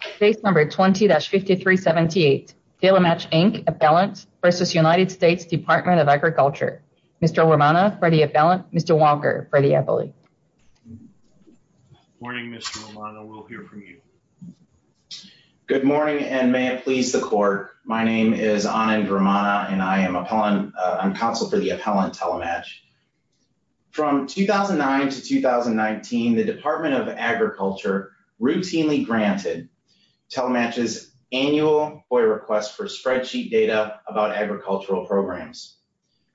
Case number 20-5378. Telematch, Inc. Appellant v. United States Department of Agriculture. Mr. Romano for the appellant. Mr. Walker for the appellate. Morning, Mr. Romano. We'll hear from you. Good morning and may it please the court. My name is Anand Romano and I am appellant. I'm counsel for the appellant, Telematch. From 2009 to 2019, the Department of Agriculture routinely granted Telematch's annual FOIA request for spreadsheet data about agricultural programs.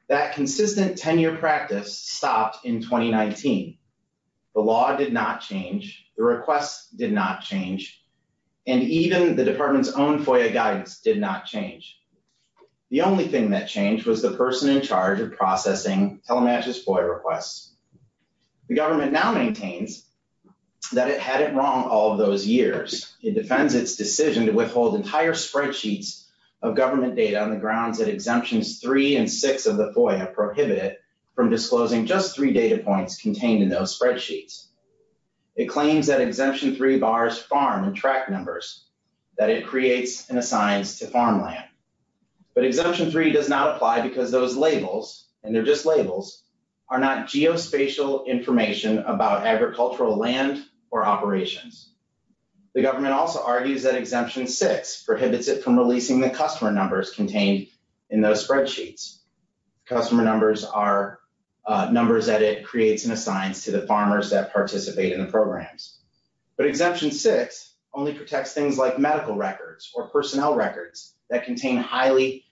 That consistent 10-year practice stopped in 2019. The law did not change, the requests did not change, and even the department's own FOIA guidance did not change. The only thing that changed was the person in charge of processing Telematch's FOIA requests. The government now all of those years. It defends its decision to withhold entire spreadsheets of government data on the grounds that exemptions three and six of the FOIA prohibit it from disclosing just three data points contained in those spreadsheets. It claims that exemption three bars farm and track numbers that it creates and assigns to farmland. But exemption three does not apply because those labels, and they're just labels, are not geospatial information about agricultural land or operations. The government also argues that exemption six prohibits it from releasing the customer numbers contained in those spreadsheets. Customer numbers are numbers that it creates and assigns to the farmers that participate in the programs. But exemption six only protects things like medical records or personnel records that contain highly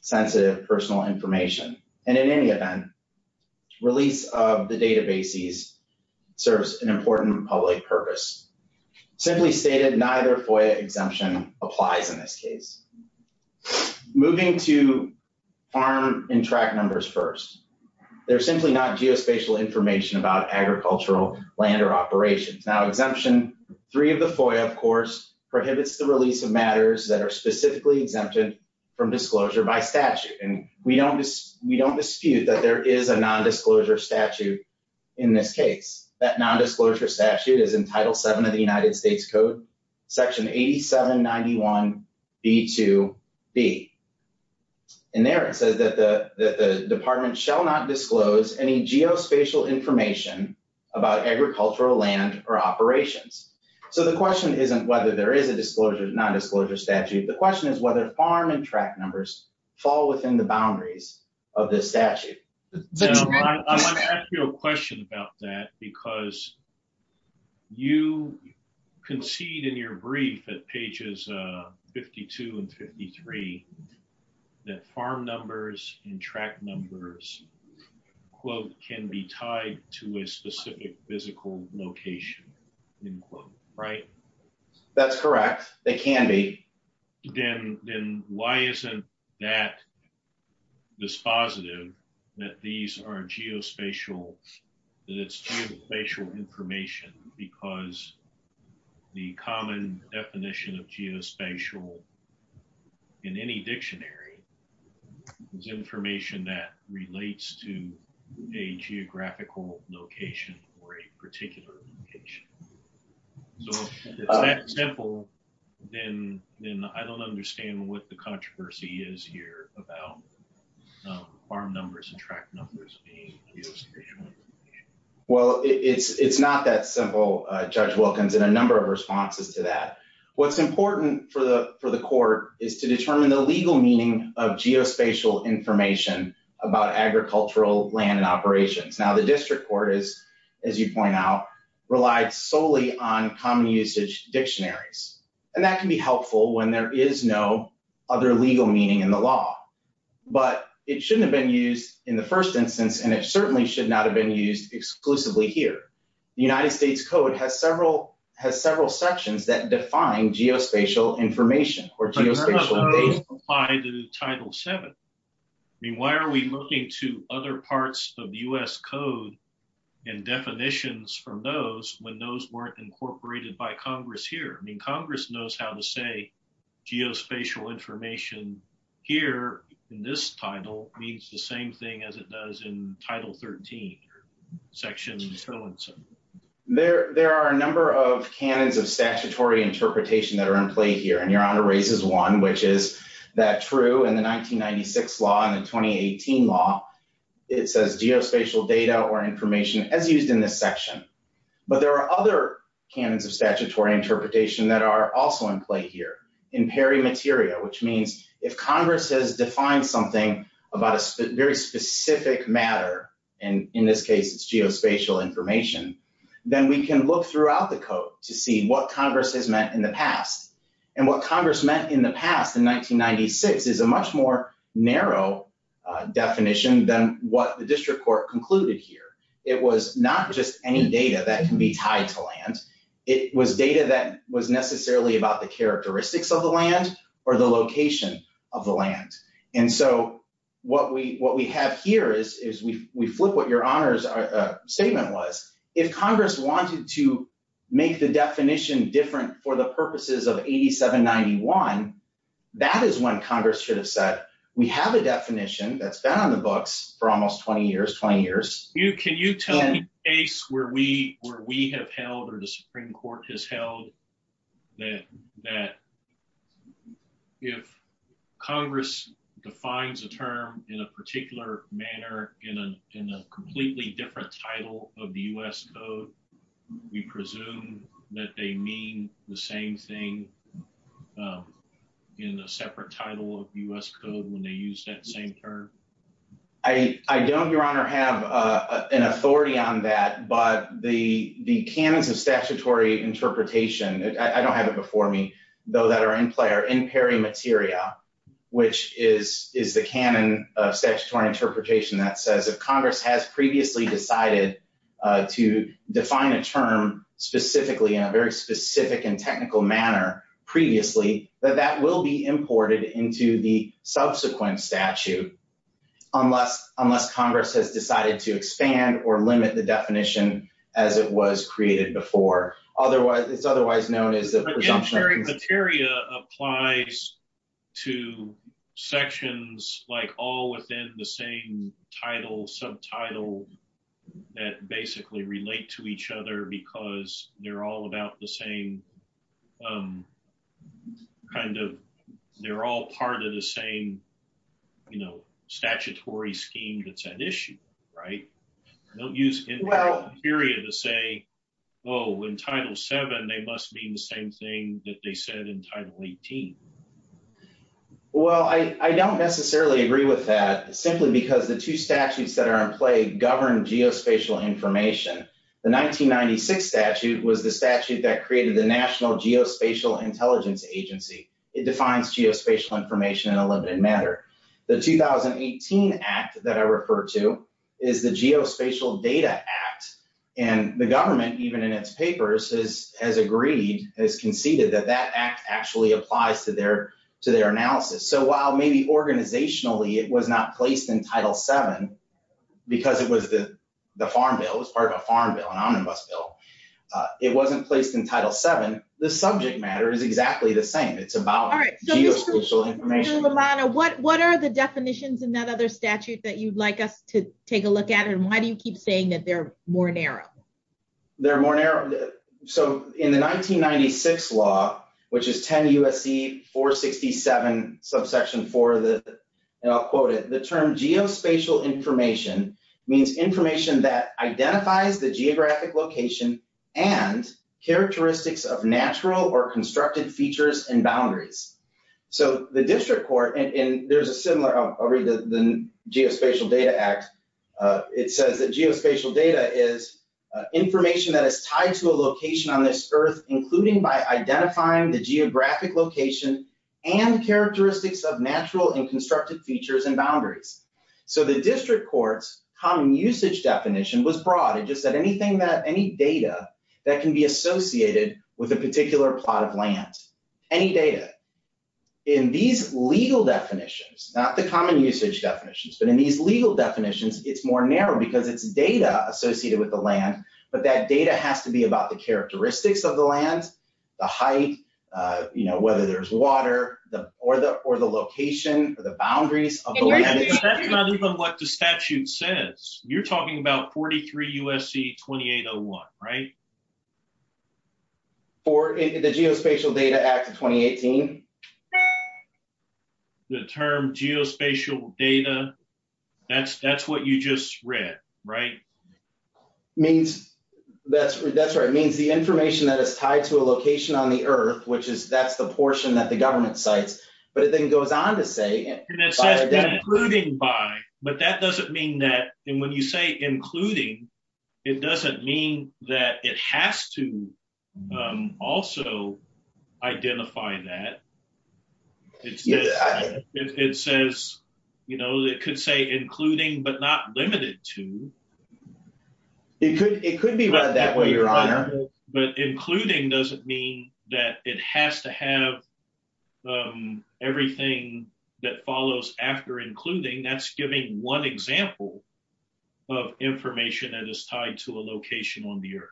sensitive personal information. And in any event, release of the databases serves an important public purpose. Simply stated, neither FOIA exemption applies in this case. Moving to farm and track numbers first. They're simply not geospatial information about agricultural land or operations. Now exemption three of the FOIA, of course, prohibits the release of matters that are specifically exempted from disclosure by statute. And we don't dispute that there is a non-disclosure statute in this case. That non-disclosure statute is in Title VII of the United States Code, section 8791b2b. And there it says that the department shall not disclose any geospatial information about agricultural land or operations. So the question isn't whether there is a non-disclosure statute. The question is whether farm and track numbers fall within the boundaries of this statute. I have a question about that because you concede in your brief at pages 52 and 53 that farm numbers and track numbers quote can be tied to a specific physical location in quote, right? That's correct. They can be. Then why isn't that dispositive that these are geospatial, that it's geospatial information because the common definition of geospatial in any dictionary is information that relates to a geographical location or a particular location. So if it's that simple, then I don't understand what the controversy is here about farm numbers and track numbers being geospatial. Well, it's not that simple, Judge Wilkins, and a number of responses to that. What's important for the court is to determine the legal meaning of geospatial information about agricultural land and operations. Now the district court is, as you point out, relied solely on common usage dictionaries, and that can be helpful when there is no other legal meaning in the law. But it shouldn't have been used in the first instance, and it certainly should not have been used exclusively here. The United States Code has several sections that to other parts of the U.S. Code and definitions from those when those weren't incorporated by Congress here. I mean, Congress knows how to say geospatial information here in this title means the same thing as it does in Title 13, Section 1. There are a number of canons of statutory interpretation that are in play here, and Your Honor raises one, which is that true in the 1996 law and the 2018 law, it says geospatial data or information as used in this section. But there are other canons of statutory interpretation that are also in play here in peri materia, which means if Congress has defined something about a very specific matter, and in this case it's geospatial information, then we can look throughout the Code to see what Congress meant in the past in 1996 is a much more narrow definition than what the district court concluded here. It was not just any data that can be tied to land. It was data that was necessarily about the characteristics of the land or the location of the land. And so what we have here is we flip what Your Honor's statement was. If Congress wanted to make the definition different for the purposes of 8791, that is when Congress should have said we have a definition that's been on the books for almost 20 years, 20 years. Can you tell me a case where we have held or the Supreme Court has held that if Congress defines a term in a particular manner in a completely different title of the U.S. Code, we presume that they mean the same thing in a separate title of U.S. Code when they use that same term? I don't, Your Honor, have an authority on that, but the canons of statutory interpretation, I don't have it before me, though, that are in play are in peri materia, which is the canon of statutory interpretation that says if Congress has previously decided to define a term specifically in a very specific and technical manner previously, that that will be imported into the subsequent statute unless Congress has decided to expand or limit the definition as it was created before. It's title, subtitle, that basically relate to each other because they're all about the same kind of, they're all part of the same, you know, statutory scheme that's at issue, right? Don't use in peri to say, oh, in Title VII, they must mean the same thing that they said in Title XVIII. Well, I don't necessarily agree with that simply because the two statutes that are in play govern geospatial information. The 1996 statute was the statute that created the National Geospatial Intelligence Agency. It defines geospatial information in a limited manner. The 2018 Act that I refer to is the Geospatial Data Act, and the government, even in its papers, has agreed, has conceded that that Act actually applies to their analysis. So while maybe organizationally it was not placed in Title VII because it was the farm bill, it was part of a farm bill, an omnibus bill, it wasn't placed in Title VII. The subject matter is exactly the same. It's about geospatial information. All right, so Mr. Romano, what are the definitions in that other statute that you'd like us to take a look at, and why do you keep saying that they're more narrow? They're more narrow. So in the 1996 law, which is 10 U.S.C. 467, subsection 4, and I'll quote it, the term geospatial information means information that identifies the geographic location and characteristics of natural or constructed features and boundaries. So the district court, and there's a similar, I'll read the Geospatial Data Act. It says that geospatial data is information that is tied to a location on this earth, including by identifying the geographic location and characteristics of natural and constructed features and boundaries. So the district court's common usage definition was broad. It just said anything that, any data that can be associated with a particular plot of these legal definitions, it's more narrow because it's data associated with the land, but that data has to be about the characteristics of the land, the height, you know, whether there's water, or the location, or the boundaries of the land. That's not even what the statute says. You're talking about 43 U.S.C. 2801, right? For the Geospatial Data Act of 2018. The term geospatial data, that's what you just read, right? That's right. It means the information that is tied to a location on the earth, which is, that's the portion that the government cites, but it then goes on to say including by, but that doesn't mean that, and when you say including, it doesn't mean that it has to also identify that. It says, you know, it could say including, but not limited to. It could be read that way, your honor. But including doesn't mean that it has to have everything that follows after including. That's giving one example of information that is tied to a location on the earth.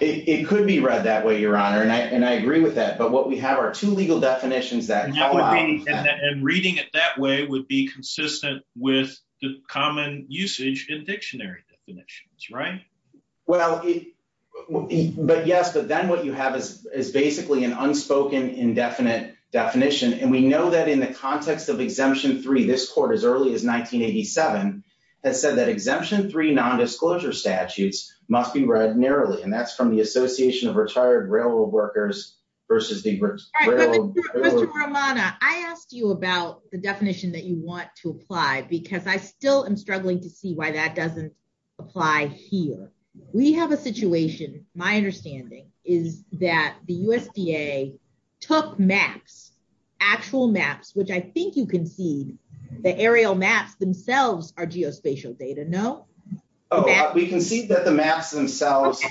It could be read that way, your honor, and I agree with that, but what we have are two legal definitions that collide. And reading it that way would be consistent with the common usage in dictionary definitions, right? Well, but yes, but then what you have is basically an unspoken indefinite definition, and we know that in the context of Exemption 3, this court, as early as 1987, has said that Exemption 3 nondisclosure statutes must be read narrowly, and that's from the Association of Retired Railroad Workers versus the Railroad Workers. Mr. Romano, I asked you about the definition that you want to apply because I still am struggling to see why that doesn't apply here. We have a situation, my understanding, is that the USDA took maps, actual maps, which I think you concede, the aerial maps themselves are geospatial data, no? We concede that the maps themselves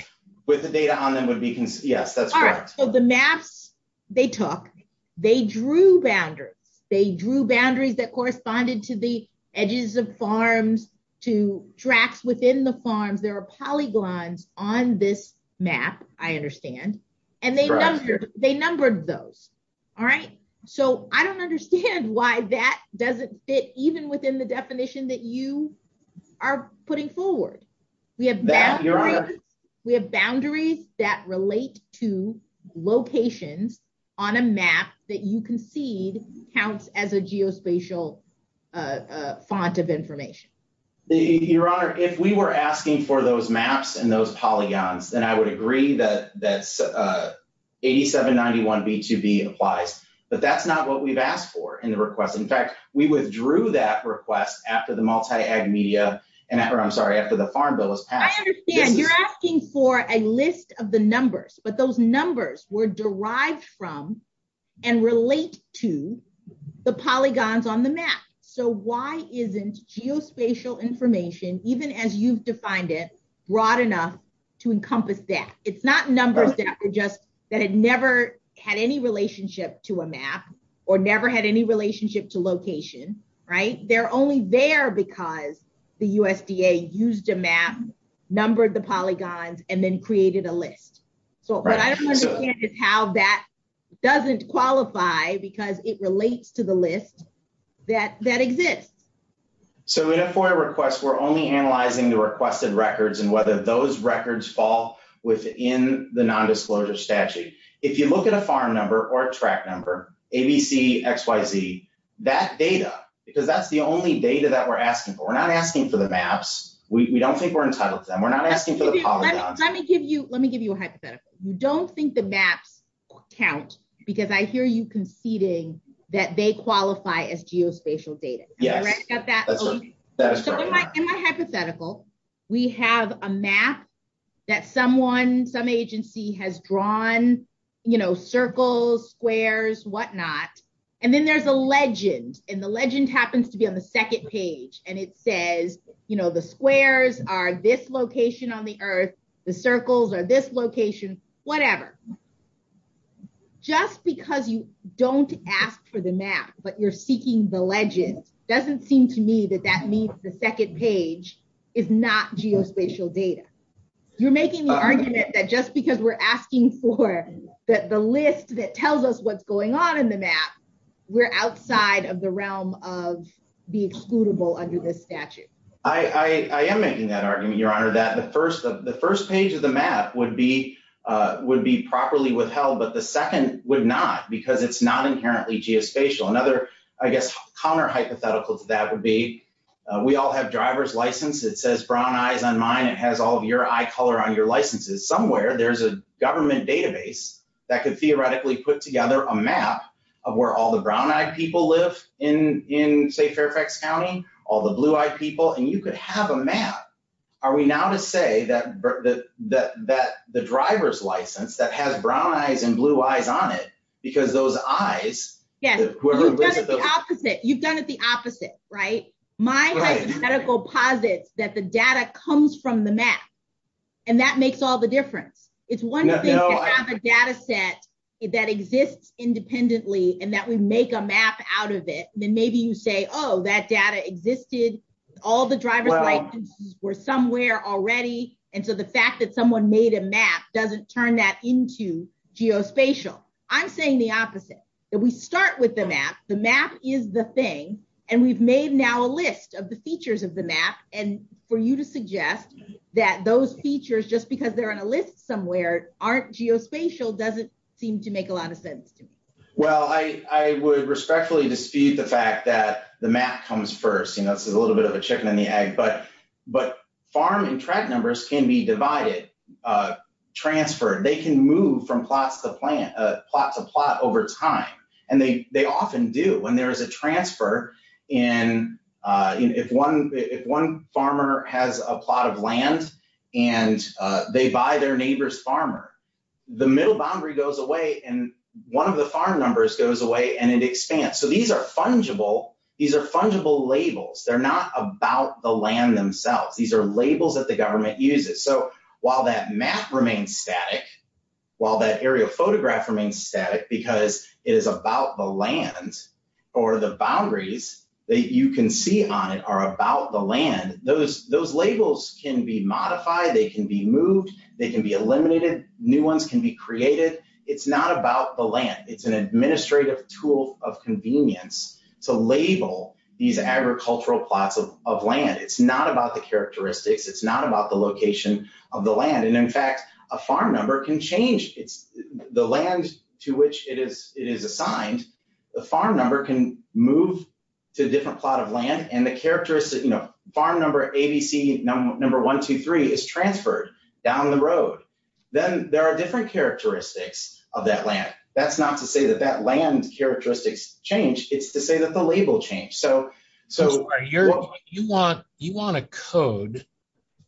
with the data on them would be, yes, that's correct. So the maps they took, they drew boundaries, they drew boundaries that corresponded to the edges of farms, to tracks within the farms, there are polyglons on this map, I understand, and they numbered those, all right? So I don't understand why that doesn't fit even within the definition that you are putting forward. We have boundaries that relate to locations on a map that you concede counts as a geospatial font of information. Your Honor, if we were asking for those maps and those polygons, then I would agree that 8791b2b applies, but that's not what we've asked for in the request. In fact, we withdrew that request after the multi-ag media, or I'm sorry, after the farm bill was passed. I understand, you're asking for a list of the numbers, but those numbers were why isn't geospatial information, even as you've defined it, broad enough to encompass that? It's not numbers that were just, that had never had any relationship to a map, or never had any relationship to location, right? They're only there because the USDA used a map, numbered the polygons, and then created a list. So what I don't understand is how that doesn't qualify because it So in a FOIA request, we're only analyzing the requested records and whether those records fall within the non-disclosure statute. If you look at a farm number or a track number, ABC, XYZ, that data, because that's the only data that we're asking for. We're not asking for the maps. We don't think we're entitled to them. We're not asking for the polygons. Let me give you, let me give you a hypothetical. You don't think the maps count because I hear you conceding that they qualify as geospatial data. Yes. Am I hypothetical? We have a map that someone, some agency has drawn, you know, circles, squares, whatnot. And then there's a legend, and the legend happens to be on the second page. And it says, you know, the squares are this but you're seeking the legend. Doesn't seem to me that that means the second page is not geospatial data. You're making the argument that just because we're asking for that the list that tells us what's going on in the map, we're outside of the realm of being excludable under this statute. I am making that argument, Your Honor, that the first of the first page of the map would be, would be properly withheld. But the second would not because it's not inherently geospatial. Another, I guess, counter hypothetical to that would be we all have driver's license. It says brown eyes on mine. It has all of your eye color on your licenses somewhere. There's a government database that could theoretically put together a map of where all the brown eyed people live in, say, Fairfax County, all the blue eyed people, and you could have a map. Are we now to say that the driver's license that has brown eyes and blue eyes on it, because those eyes... Yes, you've done it the opposite, right? My hypothetical posits that the data comes from the map and that makes all the difference. It's one thing to have a data set that exists independently and that we make a map out of it. Then maybe you say, oh, that data existed. All the driver's licenses were somewhere already. And so the fact that someone made a map doesn't turn that into geospatial. I'm saying the opposite, that we start with the map. The map is the thing. And we've made now a list of the features of the map. And for you to suggest that those features, just because they're on a list somewhere, aren't geospatial doesn't seem to make a lot of sense to me. Well, I would respectfully dispute the fact that the map comes first. It's a little bit of a chicken and the egg. But farm and track numbers can be divided. Transferred. They can move from plot to plot over time. And they often do. When there is a transfer, if one farmer has a plot of land and they buy their neighbor's farmer, the middle boundary goes away and one of the farm numbers goes away and it expands. So these are fungible. These are fungible labels. They're not about the land themselves. These are labels that the government uses. So while that map remains static, while that aerial photograph remains static because it is about the land or the boundaries that you can see on it are about the land, those labels can be modified. They can be moved. They can be eliminated. New ones can be created. It's not about the land. It's an administrative tool of convenience to label these agricultural plots of land. It's not about the characteristics. It's not about the location of the land. And in fact, a farm number can change. It's the land to which it is assigned. The farm number can move to a different plot of land and the characteristic, you know, farm number ABC number 123 is transferred down the road. Then there are different characteristics of that land. That's not to say that that land characteristics change. It's to say that the characteristics of that land change. It's just a label change. So you want a code,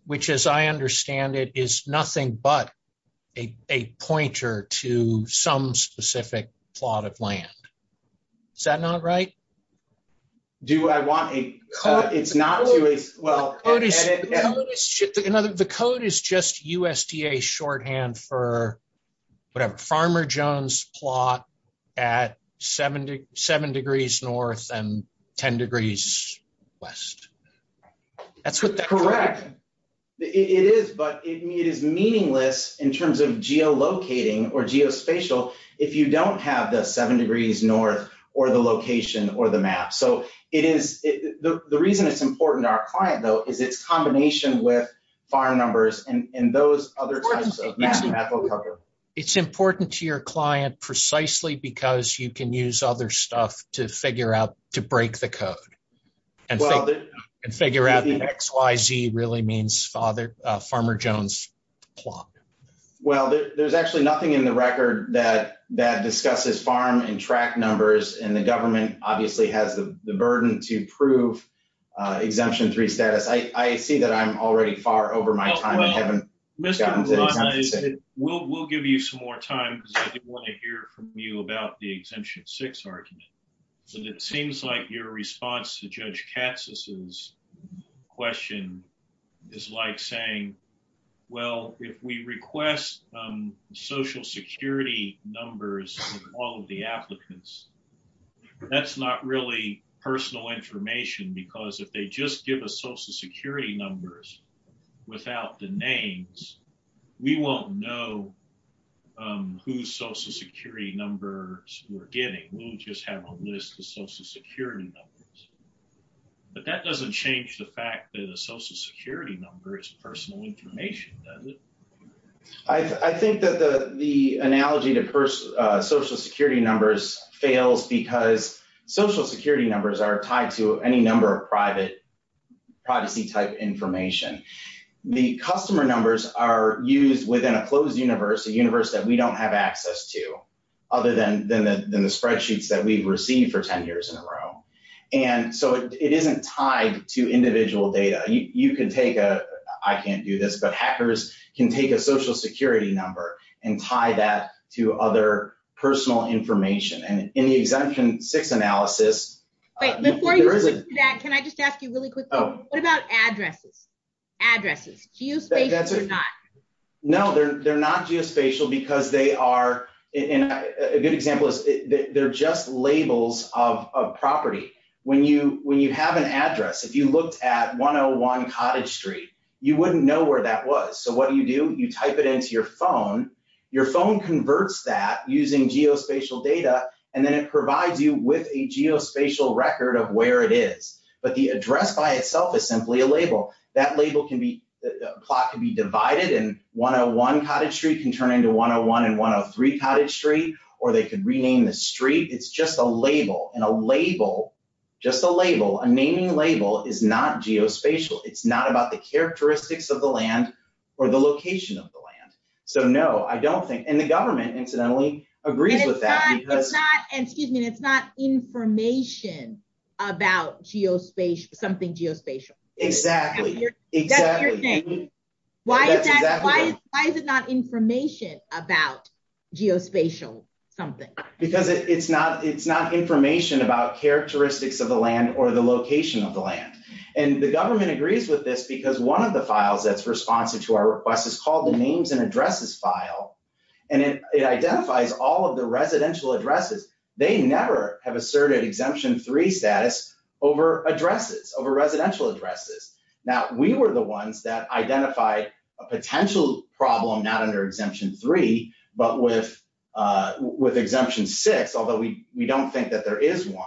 which as I understand it, is nothing but a pointer to some specific plot of land. Is that not right? Do I want a code? It's not to... The code is just USDA shorthand for whatever. Farmer Jones plot at seven degrees north and ten degrees west. That's what that... Correct. It is, but it is meaningless in terms of geolocating or geospatial if you don't have the seven degrees north or the location or the map. So it is... The reason it's important to our client, though, is its combination with farm numbers and those other types of... It's important to your client precisely because you can use other stuff to figure out to break the code and figure out the XYZ really means farmer Jones plot. Well, there's actually nothing in the record that that discusses farm and track numbers and government obviously has the burden to prove exemption three status. I see that I'm already far over my time. I haven't gotten to... We'll give you some more time because I want to hear from you about the exemption six argument. So it seems like your response to Judge Katz's question is like saying, well, if we request social security numbers of all of the applicants, that's not really personal information because if they just give us social security numbers without the names, we won't know whose social security numbers we're getting. We'll just have a list of social security numbers. But that doesn't change the fact that a social security number is personal information, does it? I think that the analogy to social security numbers fails because social security numbers are tied to any number of privacy type information. The customer numbers are used within a closed universe, a universe that we don't have access to other than the spreadsheets that we've received for 10 years in a row. And so it isn't tied to individual data. I can't do this, but hackers can take a social information. And in the exemption six analysis... Wait, before you do that, can I just ask you really quickly, what about addresses? Addresses, geospatial or not? No, they're not geospatial because they are... A good example is they're just labels of property. When you have an address, if you looked at 101 Cottage Street, you wouldn't know where that was. So what do you do? You type it into your phone. Your phone converts that using geospatial data, and then it provides you with a geospatial record of where it is. But the address by itself is simply a label. That label can be... The plot can be divided and 101 Cottage Street can turn into 101 and 103 Cottage Street, or they could rename the street. It's just a label. And a label, just a label, a naming label is not geospatial. It's not about the characteristics of the land or the location of the land. So no, I don't think... And the government incidentally agrees with that. And excuse me, it's not information about geospatial, something geospatial. Exactly. Why is it not information about geospatial something? Because it's not information about characteristics of the land or the location of the land. And the government agrees with this because one of the files that's responsive to our request is called the names and addresses file. And it identifies all of the residential addresses. They never have asserted exemption three status over addresses, over residential addresses. Now, we were the ones that identified a potential problem, not under exemption three, but with exemption six, although we don't think that there is one.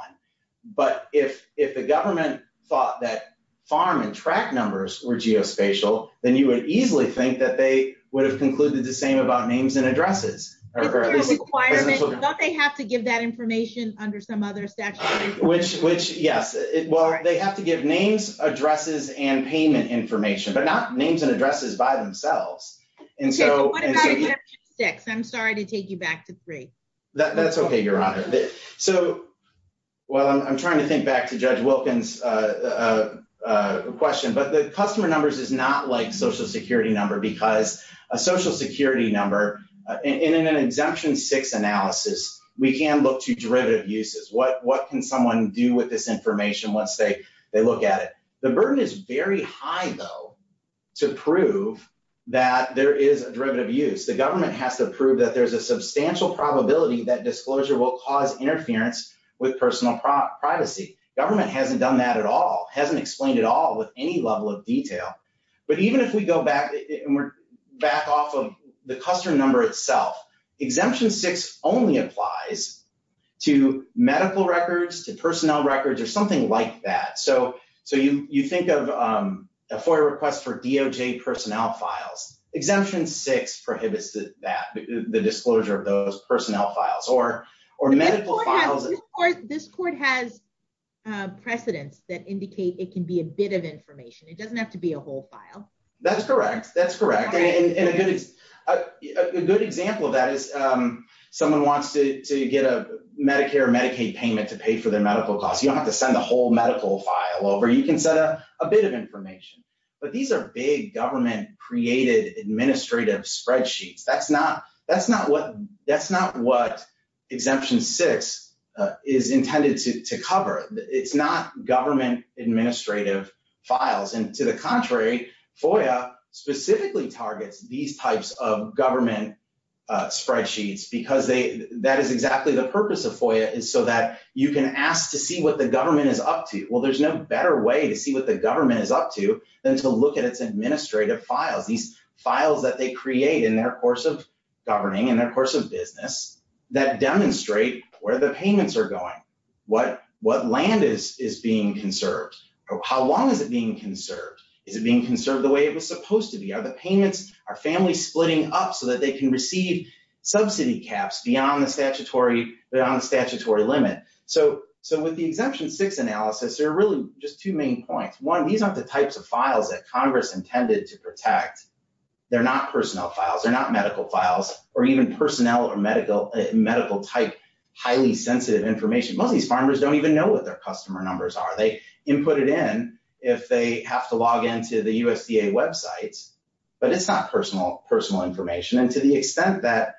But if the government thought that farm and track numbers were geospatial, then you would easily think that they would have concluded the same about names and addresses. But there's a requirement. Don't they have to give that information under some other statute? Which, yes. Well, they have to give names, addresses, and payment information, but not names and addresses by themselves. OK, but what about exemption six? I'm sorry to take you back to three. That's OK, Your Honor. So, well, I'm trying to think back to Judge Wilkins' question, but the customer numbers is not like social security number because a social security number in an exemption six analysis, we can look to derivative uses. What can someone do with this information once they look at it? The burden is very high, though, to prove that there is a derivative use. The government has to prove that there's a substantial probability that disclosure will cause interference with personal privacy. Government hasn't done that at all, hasn't explained it all with any level of detail. But even if we go back and we're back off of the customer number itself, exemption six only applies to medical records, to personnel records, or something like that. So you think of a FOIA request for DOJ personnel files, exemption six prohibits that, the disclosure of those personnel files or medical files. This court has precedents that indicate it can be a bit of information. It doesn't have to be a whole file. That's correct. That's correct. And a good example of that is someone wants to get a Medicare Medicaid payment to pay for their medical costs. You don't have to send the whole medical file over. You can send a bit of information. But these are big government-created administrative spreadsheets. That's not what exemption six is intended to cover. It's not government administrative files. And to the contrary, FOIA specifically targets these types of government so that you can ask to see what the government is up to. Well, there's no better way to see what the government is up to than to look at its administrative files, these files that they create in their course of governing, in their course of business, that demonstrate where the payments are going. What land is being conserved? How long is it being conserved? Is it being conserved the way it was supposed to be? Are the payments, are families splitting up so that they can receive subsidy caps beyond the statutory limit? So with the exemption six analysis, there are really just two main points. One, these aren't the types of files that Congress intended to protect. They're not personnel files. They're not medical files or even personnel or medical type highly sensitive information. Most of these farmers don't even know what their customer numbers are. They input it in if they have to log into the USDA websites, but it's not personal information. And to the extent that,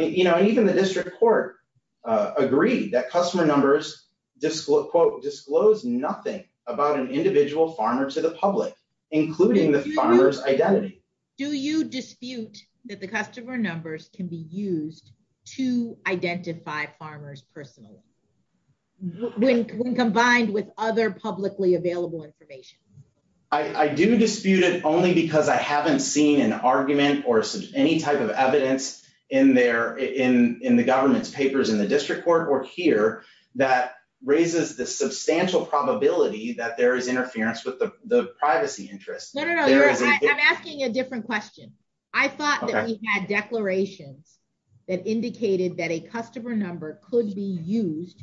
you know, and even the district court agreed that customer numbers disclose nothing about an individual farmer to the public, including the farmer's identity. Do you dispute that the customer numbers can be used to identify farmers personally when combined with other publicly available information? I do dispute it only because I any type of evidence in there, in the government's papers in the district court or here that raises the substantial probability that there is interference with the privacy interest. I'm asking a different question. I thought that we had declarations that indicated that a customer number could be used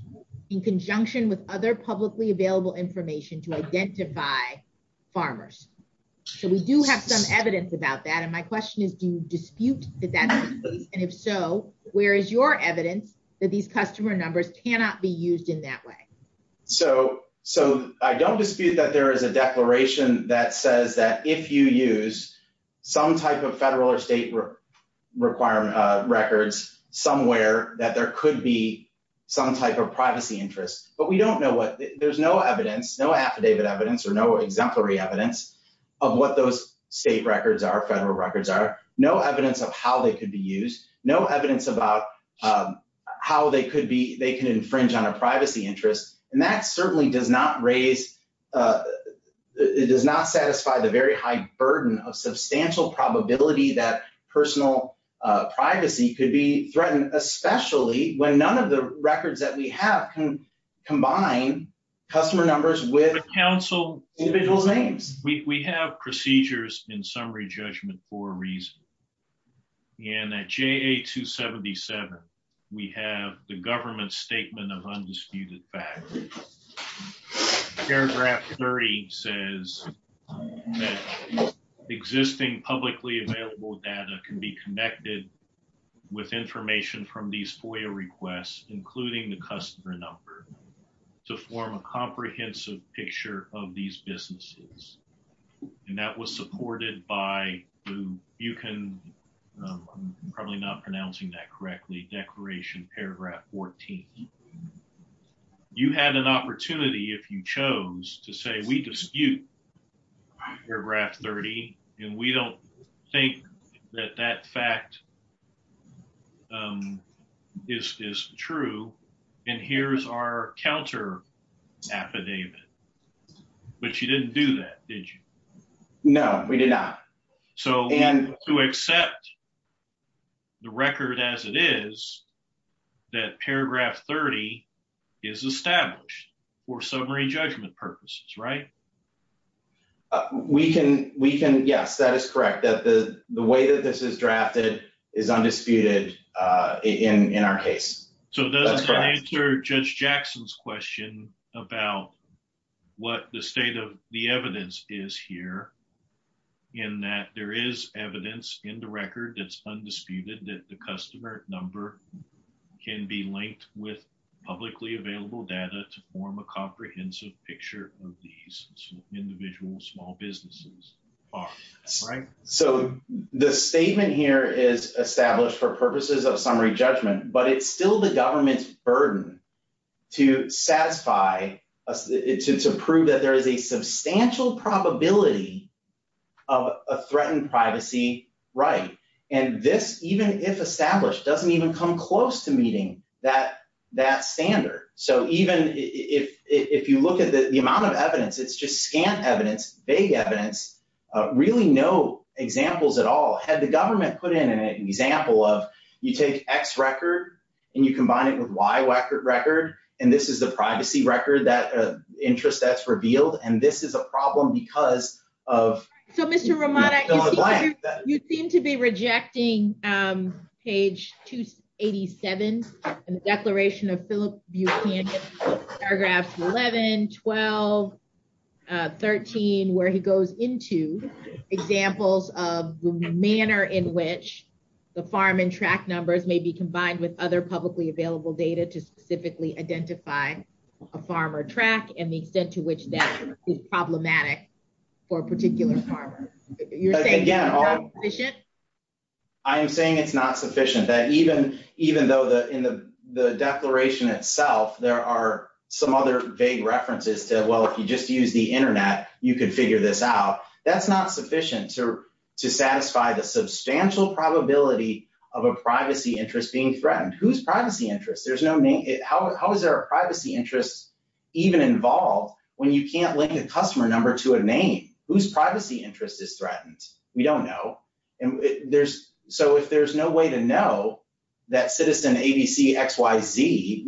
in conjunction with other publicly available information to identify farmers. So we do have some evidence about that. And my question is, do you dispute that? And if so, where is your evidence that these customer numbers cannot be used in that way? So, so I don't dispute that there is a declaration that says that if you use some type of federal or state requirement records somewhere that there could be some type of privacy interest, but we don't know what, there's no evidence, no affidavit evidence, or no exemplary evidence of what those state records are, federal records are, no evidence of how they could be used, no evidence about how they could be, they can infringe on a privacy interest. And that certainly does not raise, it does not satisfy the very high burden of substantial probability that personal privacy could be threatened, especially when none of the records that we have can combine customer numbers with individual names. We have procedures in summary judgment for a reason. And at JA-277, we have the government's statement of undisputed fact. Paragraph 30 says that existing publicly available data can be connected with information from these FOIA requests, including the customer number, to form a comprehensive picture of these businesses. And that was supported by, you can, I'm probably not pronouncing that correctly, paragraph 14. You had an opportunity, if you chose, to say we dispute paragraph 30, and we don't think that that fact is true, and here's our counter affidavit. But you didn't do that, did you? No, we did not. So to accept the record as it is, that paragraph 30 is established for summary judgment purposes, right? We can, yes, that is correct, that the way that this is drafted is undisputed in our case. So it doesn't answer Judge Jackson's question about what the state of the evidence is here, in that there is evidence in the record that's undisputed that the customer number can be linked with publicly available data to form a comprehensive picture of these individual small businesses. So the statement here is established for purposes of summary judgment, but it's still the government's burden to satisfy, to prove that there is a substantial probability of a threatened privacy right. And this, even if established, doesn't even come close to meeting that standard. So even if you look at the amount of evidence, it's just scant evidence, vague evidence, really no examples at all. Had the government put in an example of, you take X record and you combine it with Y record, and this is the privacy record that interest that's revealed, and this is a problem because of... So Mr. Romano, you seem to be rejecting page 287 in the declaration of Philip Buchanan, paragraphs 11, 12, 13, where he goes into examples of the manner in which the farm and track numbers may be combined with other publicly available data to specifically identify a farmer track and the extent to which that is problematic for a particular farmer. You're saying it's not sufficient? I am saying it's not sufficient, that even though in the declaration itself, there are some other vague references to, well, if you just use the internet, you can figure this out. That's not sufficient to satisfy the substantial probability of a privacy interest being threatened. Whose privacy interest? How is there a privacy interest even involved when you can't link a customer number to a name? Whose privacy interest is threatened? We don't know. So if there's no way to know that citizen ABC XYZ,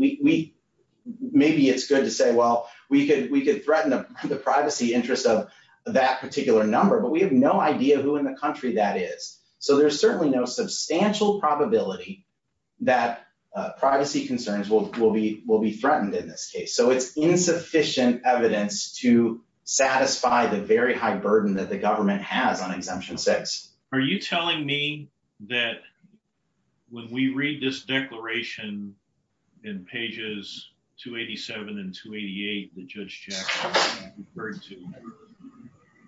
maybe it's good to say, well, we could threaten the privacy interest of that particular number, but we have no idea who in the country that is. So there's certainly no substantial probability that privacy concerns will be threatened in this case. So it's insufficient evidence to satisfy the very high burden that the government has on exemption six. Are you telling me that when we read this declaration in pages 287 and 288, the Judge Jackson referred to,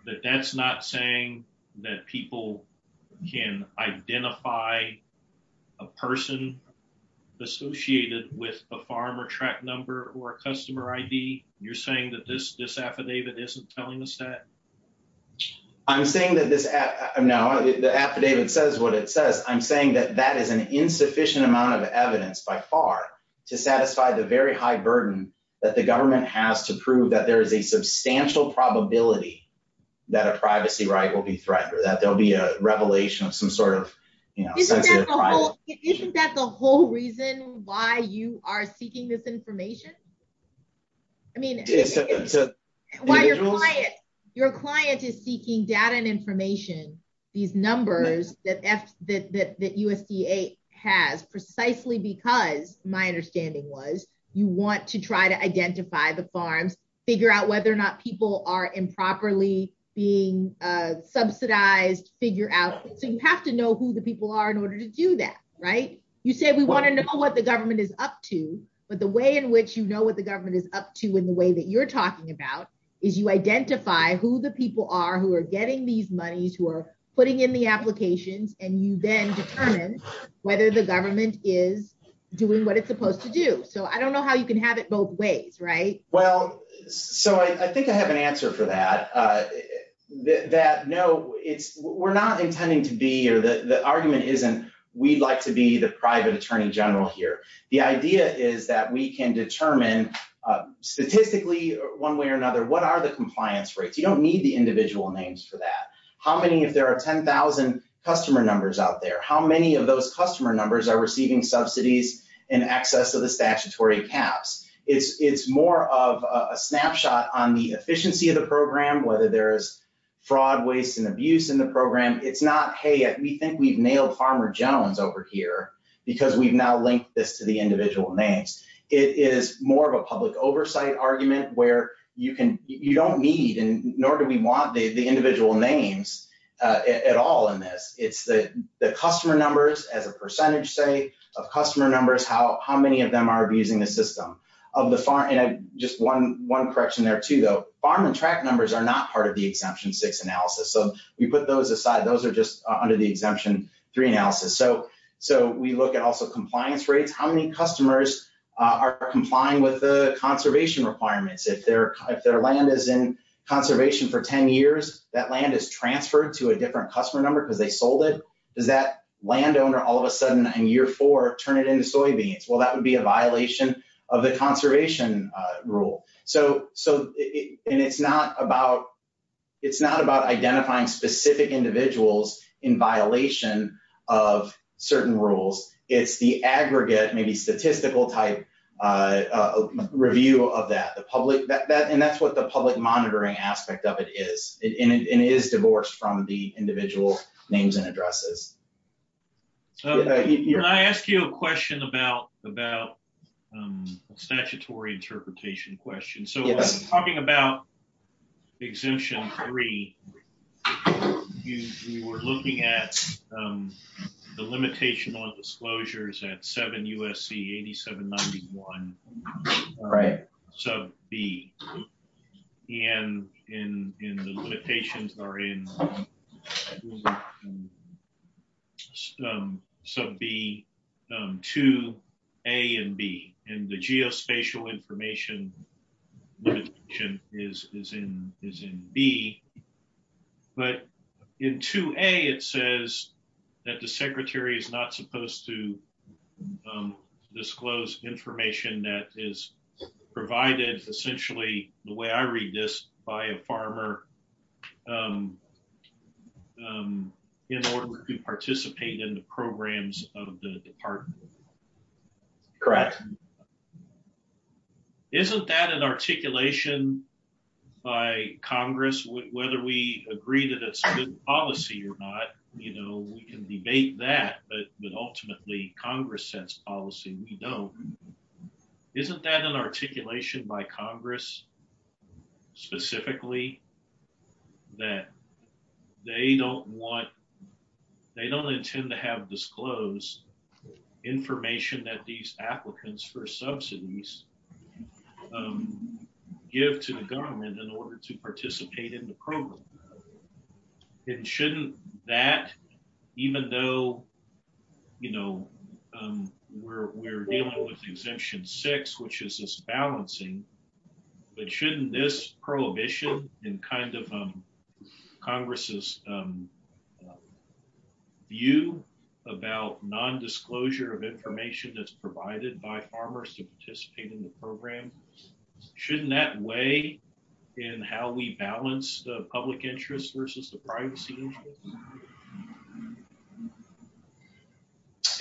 that that's not saying that people can identify a person associated with a farmer track number or a customer ID? You're saying that this affidavit isn't telling us that? I'm saying that this, no, the affidavit says what it says. I'm saying that that is an insufficient amount of evidence by far to satisfy the very high burden that the government has to prove that there is a substantial probability that a privacy right will be threatened or that there'll be a revelation of some sort of, you know, isn't that the whole reason why you are seeking this information? I mean, why your client, your client is seeking data and information, these numbers that F, that, that, that USDA has precisely because my understanding was you want to try to identify the farms, figure out whether or not people are improperly being subsidized, figure out. So you have to know who the people are in order to do that, right? You say we want to know what the government is up to, but the way in which you know what the government is up to in the way that you're talking about is you identify who the people are, who are getting these monies, who are putting in the applications, and you then determine whether the government is doing what it's supposed to do. So I don't know how you can have it both ways, right? Well, so I think I have an answer for that, that no, it's, we're not intending to be, or the argument isn't, we'd like to be the private attorney general here. The idea is that we can determine statistically one way or another, what are the compliance rates? You don't need the individual names for that. How many, if there are 10,000 customer numbers out there, how many of those customer numbers are receiving subsidies in excess of the statutory caps? It's, it's more of a snapshot on the efficiency of the program, whether there's fraud, waste, and abuse in the program. It's not, we think we've nailed Farmer Jones over here because we've now linked this to the individual names. It is more of a public oversight argument where you can, you don't need, and nor do we want the individual names at all in this. It's the customer numbers as a percentage, say, of customer numbers, how many of them are abusing the system of the farm, and just one correction there too, though, farm and track numbers are not part of the exemption six analysis. So we put those aside. Those are just under the exemption three analysis. So, so we look at also compliance rates. How many customers are complying with the conservation requirements? If their, if their land is in conservation for 10 years, that land is transferred to a different customer number because they sold it. Does that landowner all of a sudden in year four, turn it into soybeans? Well, that would be a violation of the conservation rule. So, so it, and it's not about, it's not about identifying specific individuals in violation of certain rules. It's the aggregate, maybe statistical type review of that, the public, that, that, and that's what the public monitoring aspect of it is, and it is divorced from the individual names and addresses. Can I ask you a question about, about statutory interpretation questions? So talking about exemption three, you were looking at the limitation on disclosures at 7 U.S.C. 8791 sub B, and in, in the limitations are in 7 U.S.C. 8791 sub B, 2 A and B, and the geospatial information is, is in, is in B. But in 2 A, it says that the secretary is not supposed to disclose information that is provided, essentially the way I read this, by a farmer. In order to participate in the programs of the department. Correct. Isn't that an articulation by Congress, whether we agree that it's good policy or not, you know, we can debate that, but, but ultimately Congress sets policy, we don't. Isn't that an articulation by Congress, specifically, that they don't want, they don't intend to have disclosed information that these applicants for subsidies give to the government in order to participate in the program? And shouldn't that, even though, you know, we're, we're dealing with exemption six, which is this balancing, but shouldn't this prohibition and kind of Congress's view about non-disclosure of information that's provided by farmers to participate in the program, shouldn't that weigh in how we balance the public interest versus the privacy?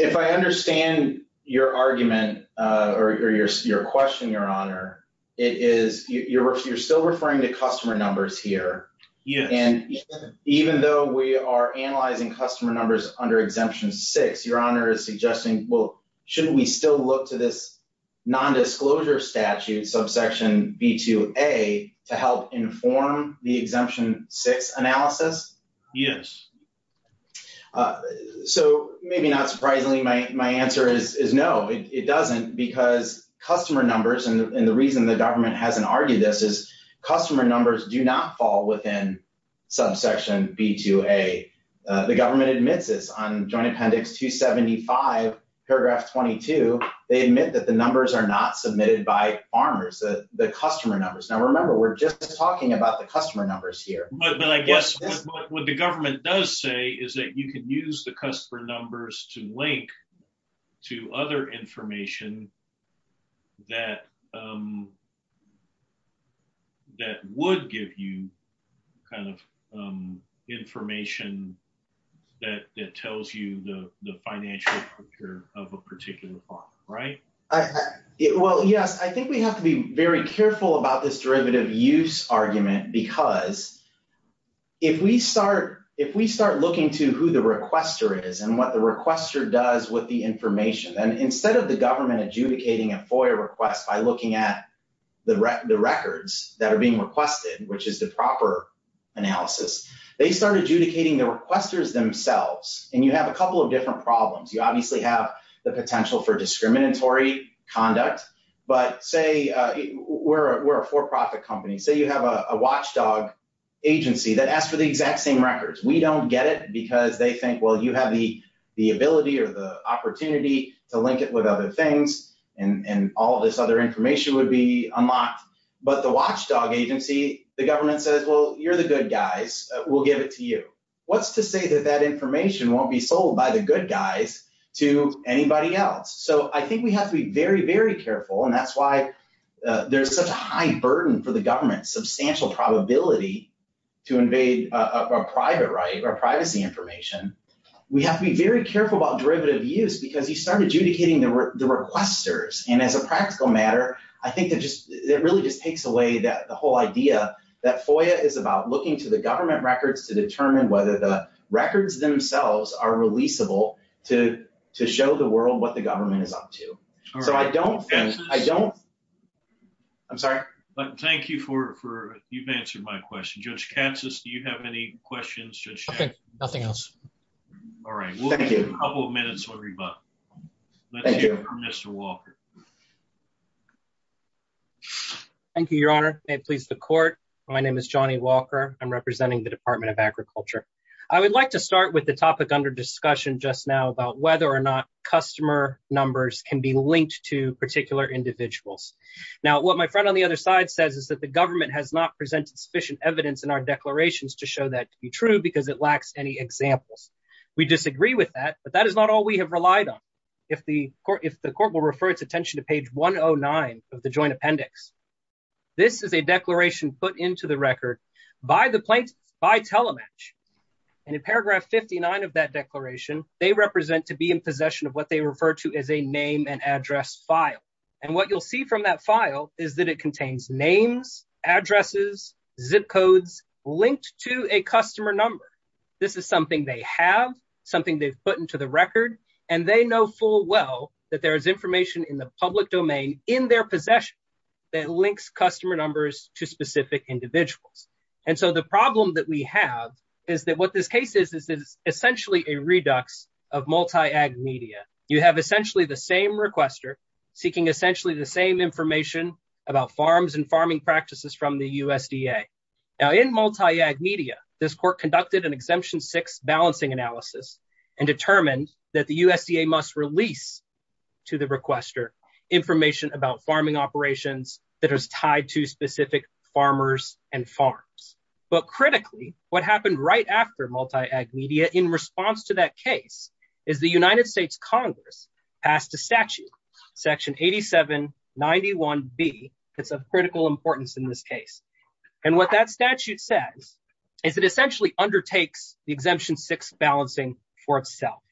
If I understand your argument, or your, your question, your honor, it is your, you're still referring to customer numbers here. Yeah. And even though we are analyzing customer numbers under exemption six, your honor is suggesting, well, shouldn't we still look to non-disclosure statute subsection B2A to help inform the exemption six analysis? Yes. So maybe not surprisingly, my, my answer is no, it doesn't because customer numbers, and the reason the government hasn't argued this is customer numbers do not fall within subsection B2A. The government admits this on joint appendix 275, paragraph 22, they admit that the numbers are not submitted by farmers, the customer numbers. Now, remember, we're just talking about the customer numbers here. But I guess what the government does say is that you can use the customer numbers to link to other information that, um, that would give you kind of, um, information that, that tells you the, the financial of a particular farm, right? Well, yes, I think we have to be very careful about this derivative use argument because if we start, if we start looking to who the requester is and what the requester does with the information, and instead of the government adjudicating a FOIA request by looking at the records that are being requested, which is the proper analysis, they start adjudicating the requesters themselves. And you have a couple of different problems. You obviously have the potential for discriminatory conduct, but say, uh, we're, we're a for-profit company. Say you have a watchdog agency that asks for the exact same records. We don't get it because they think, well, you have the, the ability or the opportunity to link it with other things and, and all this other information would be unlocked. But the watchdog agency, the government says, well, you're the good guys. We'll give it to you. What's to say that that information won't be sold by the good guys to anybody else? So I think we have to be very, very careful. And that's why, uh, there's such a high burden for the government, substantial probability to invade a private right or privacy information. We have to be very careful about derivative use because you started adjudicating the requesters. And as a practical matter, I think that just, it really just takes away that the whole idea that FOIA is about looking to the government records to determine whether the records themselves are releasable to, to show the world what the government is up to. So I don't, I don't, I'm sorry, but thank you for, for you've answered my question, judge Katsas. Do you have any questions? Nothing else. All right. Thank you. A couple of minutes. Mr. Walker. Thank you, your honor. May it please the court. My name is Johnny Walker. I'm representing the department of agriculture. I would like to start with the topic under discussion just now about whether or not customer numbers can be linked to particular individuals. Now, what my friend on the other side says is that the government has not presented sufficient evidence in our declarations to show that to be true because it lacks any examples. We disagree with that, but that is all we have relied on. If the court, if the court will refer its attention to page 109 of the joint appendix, this is a declaration put into the record by the plaintiff by telematch. And in paragraph 59 of that declaration, they represent to be in possession of what they refer to as a name and address file. And what you'll see from that file is that it contains names, addresses, zip codes linked to a customer number. This is something they have, something they've put into the record and they know full well that there is information in the public domain in their possession that links customer numbers to specific individuals. And so the problem that we have is that what this case is, is essentially a redux of multi-ag media. You have essentially the same requester seeking essentially the same information about farms and farming practices from the USDA. Now in multi-ag media, this court conducted an exemption six balancing analysis and determined that the USDA must release to the requester information about farming operations that is tied to specific farmers and farms. But critically, what happened right after multi-ag media in response to that case is the United States Congress passed a statute, section 8791B, that's of critical importance in this case. And what that statute says is it essentially undertakes the exemption six balancing for itself.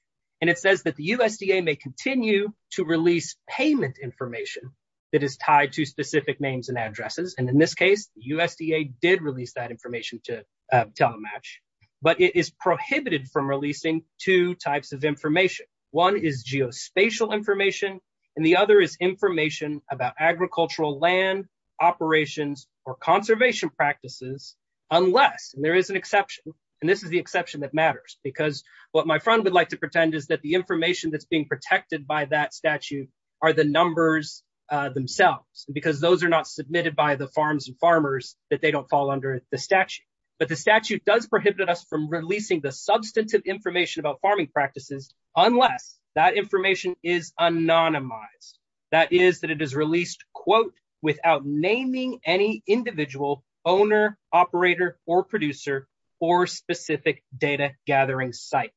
And it says that the USDA may continue to release payment information that is tied to specific names and addresses. And in this case, the USDA did release that information to telematch, but it is prohibited from releasing two types of information. One is geospatial information and the other is information about agricultural land operations or conservation practices, unless there is an exception. And this is the exception that matters because what my friend would like to pretend is that the information that's being protected by that statute are the numbers themselves, because those are not submitted by the farms and farmers that they don't fall under the statute. But the statute does prohibit us from releasing the substantive information about farming practices, unless that information is anonymized. That is that it is released, quote, without naming any individual owner, operator, or producer, or specific data gathering site.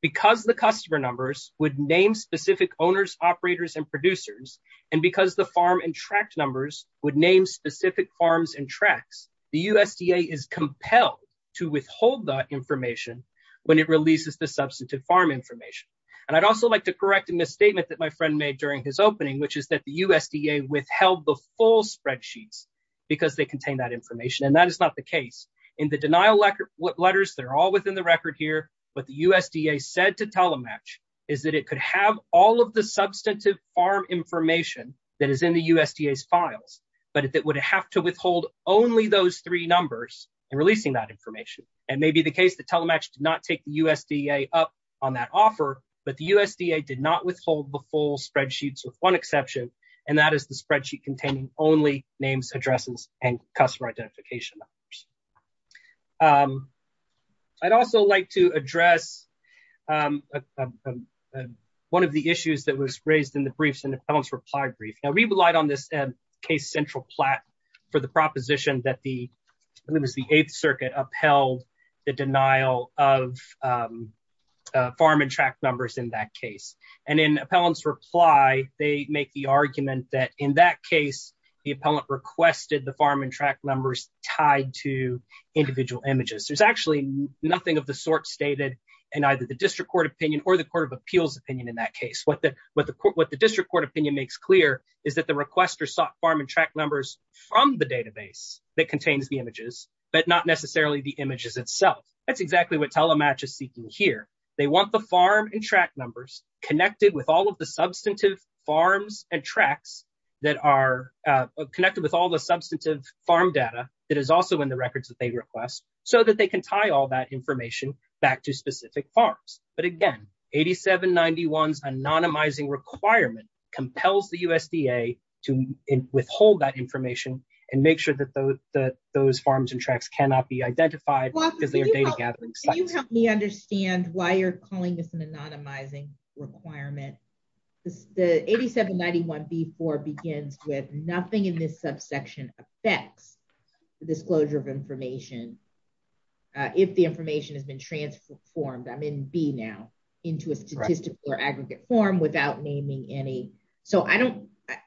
Because the customer numbers would name specific owners, operators, and producers, and because the farm and tract numbers would name specific farms and tracts, the USDA is compelled to withhold that information when it releases the substantive farm information. And I'd also like to correct a misstatement that my friend made during his opening, which is that the USDA withheld the full spreadsheets because they contain that information, and that is not the case. In the denial letters, they're all within the record here, but the USDA said to telematch is that it could have all of the substantive farm information that is in the USDA's files, but it would have to withhold only those three numbers in releasing that information. And maybe the case that telematch did not take the USDA up on that offer, but the USDA did not withhold the full spreadsheets with one exception, and that is the spreadsheet containing only names, addresses, and customer identification numbers. I'd also like to address one of the issues that was raised in the briefs in the appellant's reply brief. Now, we relied on this case Central Platt for the proposition that the, I believe it was the Eighth Circuit, upheld the denial of farm and tract numbers in that case. And in appellant's reply, they make the argument that in that case, the appellant requested the farm and tract numbers tied to individual images. There's actually nothing of the sort stated in either the district court opinion or the what the district court opinion makes clear is that the requester sought farm and tract numbers from the database that contains the images, but not necessarily the images itself. That's exactly what telematch is seeking here. They want the farm and tract numbers connected with all of the substantive farms and tracts that are connected with all the substantive farm data that is also in the records that they request so that they can tie all that information back to specific farms. But again, 8791's anonymizing requirement compels the USDA to withhold that information and make sure that those farms and tracts cannot be identified because they are data gathering. Can you help me understand why you're calling this an anonymizing requirement? The 8791b4 begins with nothing in this subsection affects the disclosure of information if the information has been transformed, I'm in B now, into a statistical or aggregate form without naming any.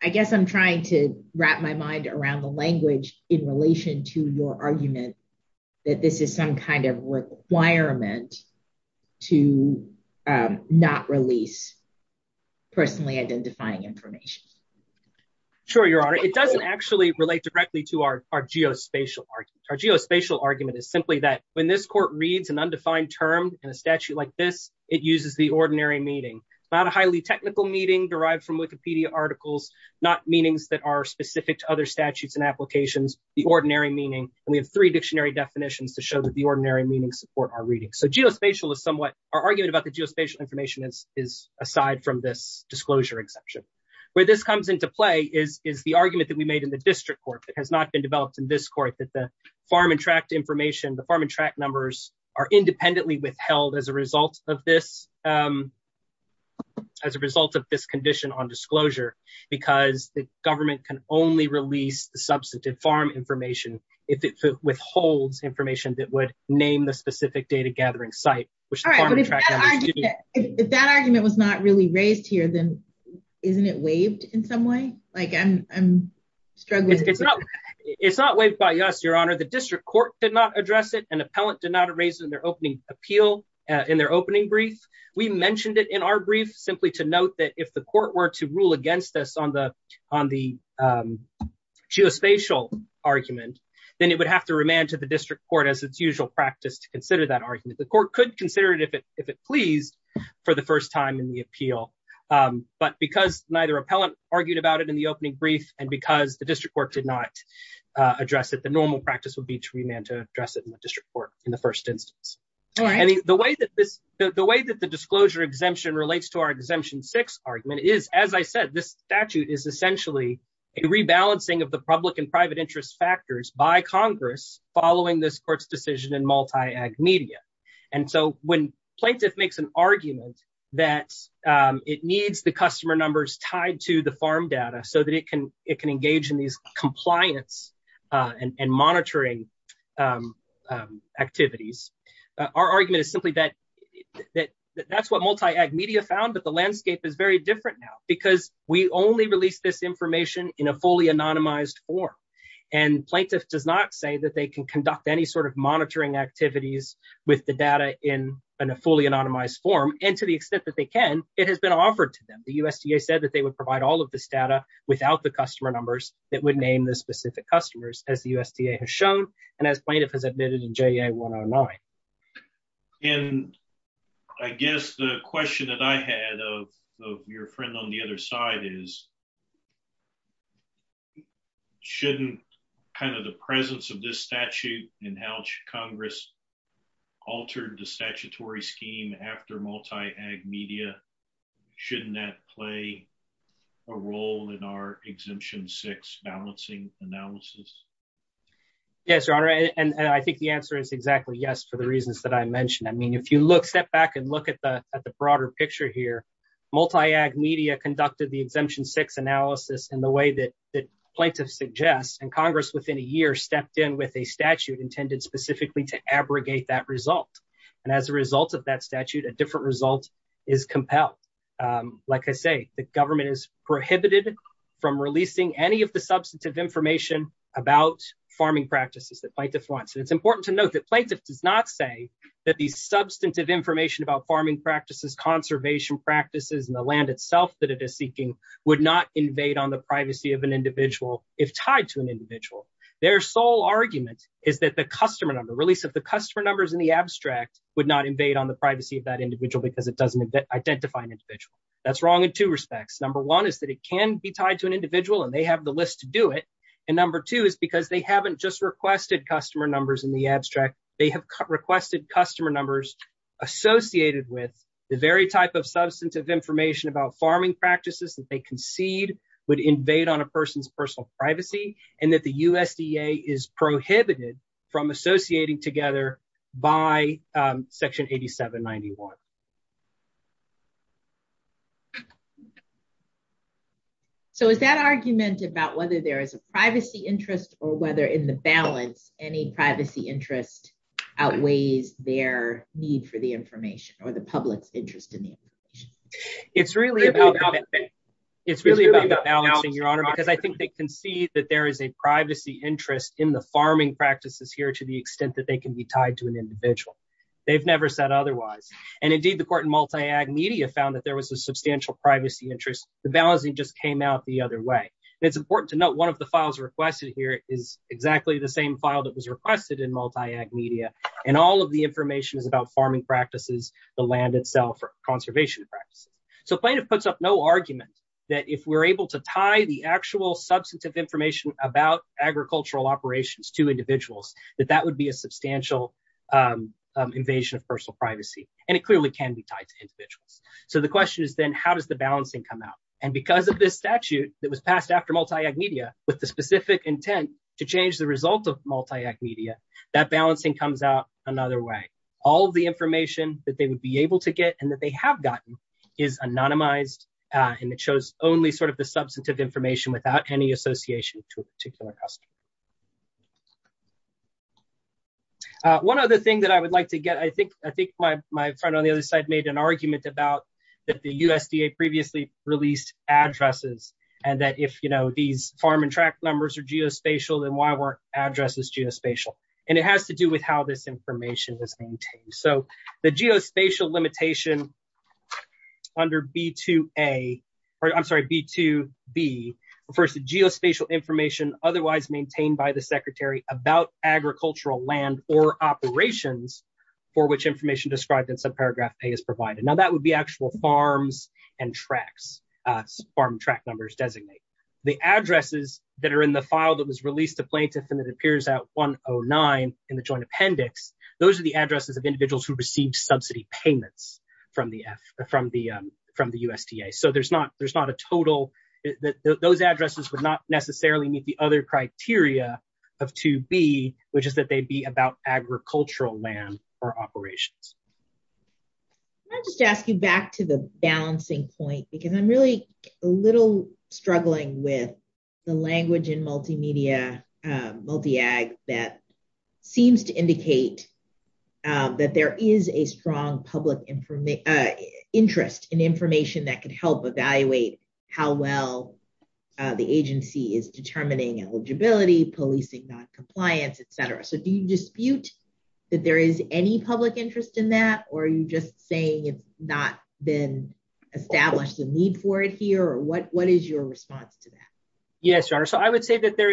I guess I'm trying to wrap my mind around the language in relation to your argument that this is some kind of requirement to not release personally identifying information. Sure, your honor. It doesn't actually relate directly to our geospatial argument. Our geospatial argument is simply that when this court reads an undefined term in a statute like this, it uses the ordinary meaning. Not a highly technical meaning derived from Wikipedia articles, not meanings that are specific to other statutes and applications, the ordinary meaning. And we have three dictionary definitions to show that the ordinary meanings support our reading. So geospatial is somewhat, our argument about the geospatial information is aside from this comes into play is the argument that we made in the district court that has not been developed in this court that the farm and tract information, the farm and tract numbers are independently withheld as a result of this condition on disclosure because the government can only release the substantive farm information if it withholds information that would name the specific data gathering site. All right, but if that argument was not really raised here, then isn't it waived in some way? I'm struggling. It's not waived by us, your honor. The district court did not address it. An appellant did not raise it in their opening appeal, in their opening brief. We mentioned it in our brief simply to note that if the court were to rule against us on the geospatial argument, then it would have to remand to the district court as its usual practice to consider that argument. The court could consider it if it pleased for the first time in the appeal. But because neither appellant argued about it in the opening brief and because the district court did not address it, the normal practice would be to remand to address it in the district court in the first instance. The way that the disclosure exemption relates to our exemption six argument is, as I said, this statute is essentially a rebalancing of the public and private interest factors by Congress following this court's decision in multi-ag media. When plaintiff makes an argument that it needs the customer numbers tied to the farm data so that it can engage in these compliance and monitoring activities, our argument is simply that that's what multi-ag media found, but the landscape is very different now because we only release this information in a fully anonymized form. Plaintiff does not say that they can conduct any sort of monitoring activities with the data in a fully anonymized form, and to the extent that they can, it has been offered to them. The USDA said that they would provide all of this data without the customer numbers that would name the specific customers, as the USDA has shown and as plaintiff has admitted in JA 109. And I guess the question that I had of your friend on the other side is, shouldn't kind of the presence of this statute and how Congress altered the statutory scheme after multi-ag media, shouldn't that play a role in our exemption six balancing analysis? Yes, your honor, and I think the answer is exactly yes for the reasons that I mentioned. I mean, if you step back and look at the broader picture here, multi-ag media conducted the exemption six analysis in the way that plaintiff suggests, and Congress within a year stepped in with a statute intended specifically to abrogate that result. And as a result of that statute, a different result is compelled. Like I say, the government is prohibited from releasing any of the substantive information about farming practices that plaintiff wants. And it's important to note that plaintiff does not say that these substantive information about farming practices, conservation practices, and the land itself that it is seeking would not invade on the privacy of an individual if tied to an individual. Their sole argument is that the customer number, release of the customer numbers in the abstract would not invade on the privacy of that individual because it doesn't identify an individual. That's wrong in two respects. Number one is that it can be tied to an individual and they have the list to do it. And number two is because they haven't just in the abstract, they have requested customer numbers associated with the very type of substantive information about farming practices that they concede would invade on a person's personal privacy and that the USDA is prohibited from associating together by section 8791. So is that argument about whether there is a privacy interest or whether in the balance any privacy interest outweighs their need for the information or the public's interest in the information? It's really about the balancing, Your Honor, because I think they can see that there is a privacy interest in the farming practices here to the extent that they can be tied to an individual. They've never said otherwise. And indeed, the court in multi-ag media found that there was a substantial privacy interest. The balancing just came out the other way. It's important to note one of the files requested here is exactly the same file that was requested in multi-ag media. And all of the information is about farming practices, the land itself, conservation practices. So plaintiff puts up no argument that if we're able to tie the actual substantive information about agricultural operations to individuals, that that would be a substantial invasion of personal privacy. And it clearly can be tied to individuals. So the question is then how does the balancing come out? And because of this statute that was passed after multi-ag media with the specific intent to change the result of multi-ag media, that balancing comes out another way. All of the information that they would be able to get and that they have gotten is anonymized. And it shows only sort of the substantive information without any association to a particular customer. One other thing that I would like to get, I think my friend on the other side made an argument about that the USDA previously released addresses and that if these farm and tract numbers are geospatial, then why weren't addresses geospatial? And it has to do with how this information is maintained. So the geospatial limitation under B2B refers to geospatial information otherwise maintained by the secretary about agricultural land or operations for which information described in subparagraph A is provided. Now that would be actual farms and tracts, farm track numbers designate. The addresses that are in the file that was released to plaintiff and it appears at 109 in the joint appendix, those are the addresses of individuals who received subsidy payments from the USDA. So there's not a total, those addresses would not necessarily meet the other criteria of 2B which is that they'd be about agricultural land or operations. Can I just ask you back to the balancing point because I'm really a little struggling with the language in multimedia, multi-ag that seems to indicate that there is a strong public interest in information that could help evaluate how well the agency is determining eligibility, policing non-compliance, etc. So do you dispute that there is any public interest in that or are you just saying it's not been established a need for it here or what is your response to that? Yes, your honor. So I would say that there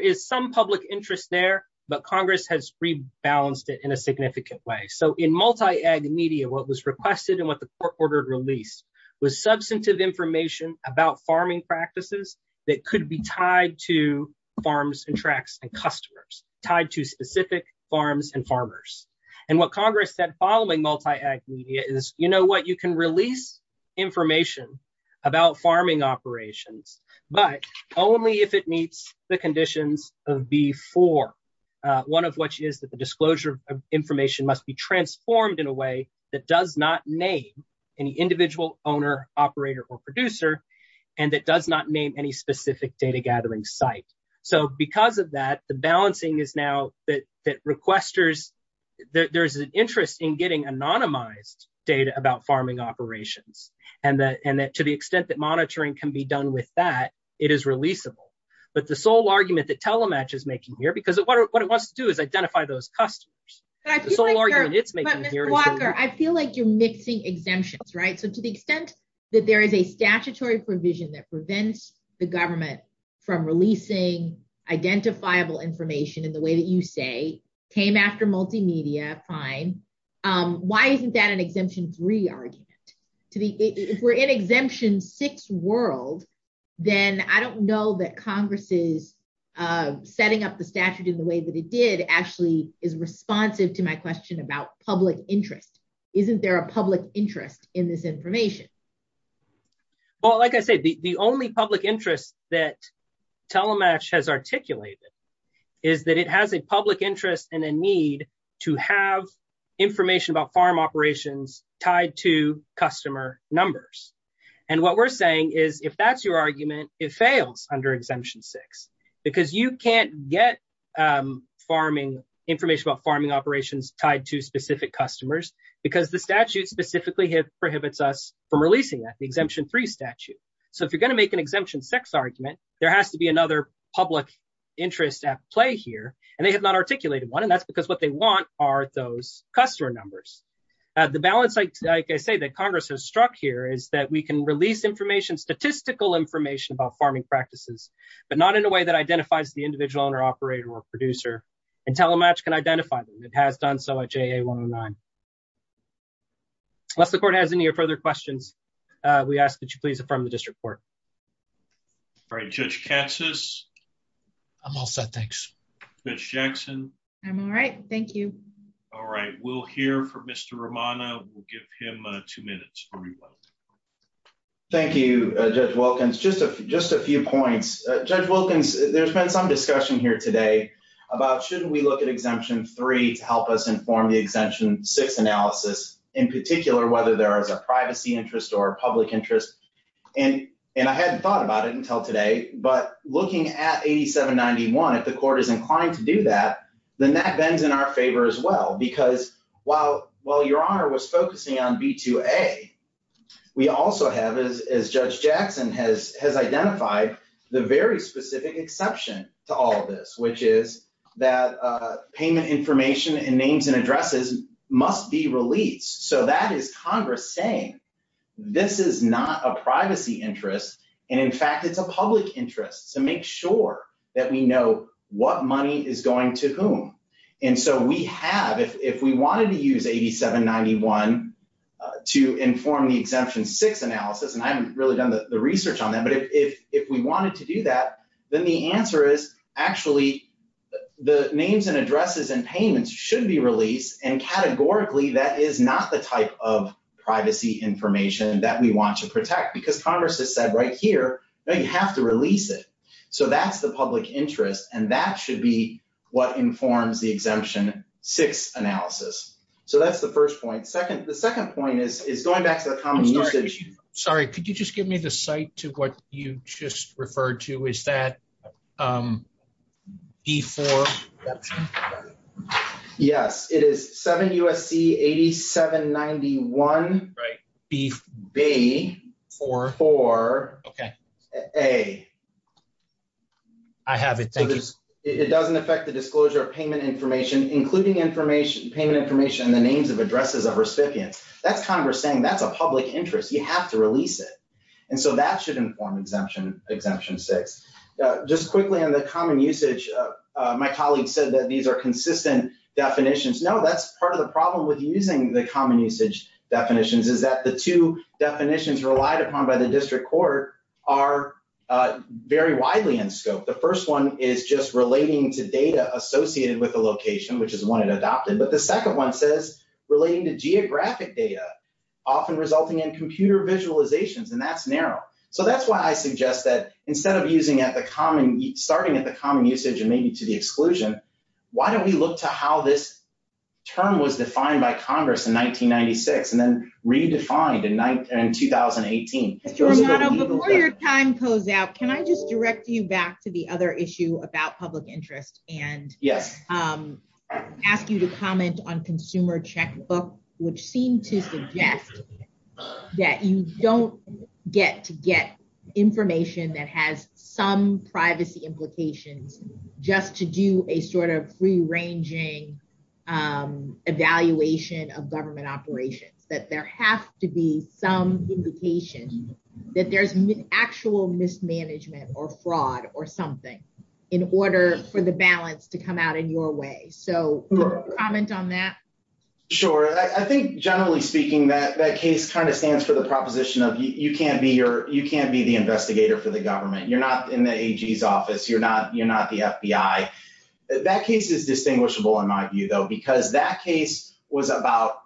is some public interest there but Congress has rebalanced it in a significant way. So in multi-ag media what was requested and what the court ordered released was substantive information about farming practices that could be tied to farms and tracts and customers, tied to specific farms and farmers. And what Congress said following multi-ag media is you know what you can release information about farming operations but only if it meets the conditions of B4, one of which is that the disclosure of information must be transformed in a way that does not name any individual owner operator or producer and that does not name any specific data gathering site. So because of that the balancing is now that there's an interest in getting anonymized data about farming operations and that to the extent that monitoring can be done with that it is releasable. But the sole argument that telematch is making here because what it wants to do is identify those customers. But I feel like you're mixing exemptions, right? So to the extent that there is a statutory provision that prevents the government from releasing identifiable information in the way that you say came after multimedia, fine. Why isn't that an exemption three argument? If we're in exemption six world then I don't know that Congress's setting up the statute in the way that it did actually is responsive to my question about public interest. Isn't there a public interest in this information? Well like I said the only public interest that telematch has articulated is that it has a public interest and a need to have information about farm operations tied to customer numbers. And what we're saying is if that's your argument it fails under exemption six because you can't get farming information about farming operations tied to because the statute specifically prohibits us from releasing that the exemption three statute. So if you're going to make an exemption six argument there has to be another public interest at play here and they have not articulated one and that's because what they want are those customer numbers. The balance like I say that Congress has struck here is that we can release information statistical information about farming practices but not in a way that identifies the individual owner operator or producer and telematch can identify them. It has done so at JA 109. Unless the court has any further questions we ask that you please affirm the district court. All right Judge Katsas. I'm all set thanks. Judge Jackson. I'm all right thank you. All right we'll hear from Mr. Romano. We'll give him two minutes. Thank you Judge Wilkins. Just a few points. Judge Wilkins there's been some discussion here today about shouldn't we look at exemption three to help us inform the exemption six analysis in particular whether there is a privacy interest or public interest and and I hadn't thought about it until today but looking at 8791 if the court is inclined to do that then that bends in our favor as well because while while your honor was focusing on b2a we also have as Judge Jackson has has identified the very specific exception to all this which is that payment information and names and addresses must be released so that is congress saying this is not a privacy interest and in fact it's a public interest to make sure that we know what money is going to whom and so we have if if we wanted to use 8791 to inform the exemption six analysis and I haven't really done the research on that but if if we wanted to do that then the answer is actually the names and addresses and payments should be released and categorically that is not the type of privacy information that we want to protect because congress has said right here now you have to release it so that's the public interest and that should be what informs the exemption six analysis so that's the first point second the second point is is going back to the common usage sorry could you just give me the site to what you just referred to is that um before yes it is seven usc 8791 right b b four four okay a I have it thank you it doesn't affect the disclosure of payment information including information payment information and the names of addresses of recipients that's congress saying that's a public interest you have to release it and so that should inform exemption exemption six just quickly on the common usage my colleague said that these are consistent definitions no that's part of the problem with using the common usage definitions is that the two definitions relied upon by the district court are very widely in scope the first one is just relating to data associated with the location which is one it adopted but the second one says relating to resulting in computer visualizations and that's narrow so that's why i suggest that instead of using at the common starting at the common usage and maybe to the exclusion why don't we look to how this term was defined by congress in 1996 and then redefined in 1918 before your time goes out can i just direct you back to the other issue about public interest and yes um ask you to comment on consumer checkbook which seemed to suggest that you don't get to get information that has some privacy implications just to do a sort of free ranging um evaluation of government operations that there have to be some indication that there's actual mismanagement or fraud or something in order for the balance to come out in your way so comment on that sure i think generally speaking that that case kind of stands for the proposition of you can't be your you can't be the investigator for the government you're not in the ag's office you're not you're not the fbi that case is distinguishable in my view though because that case was about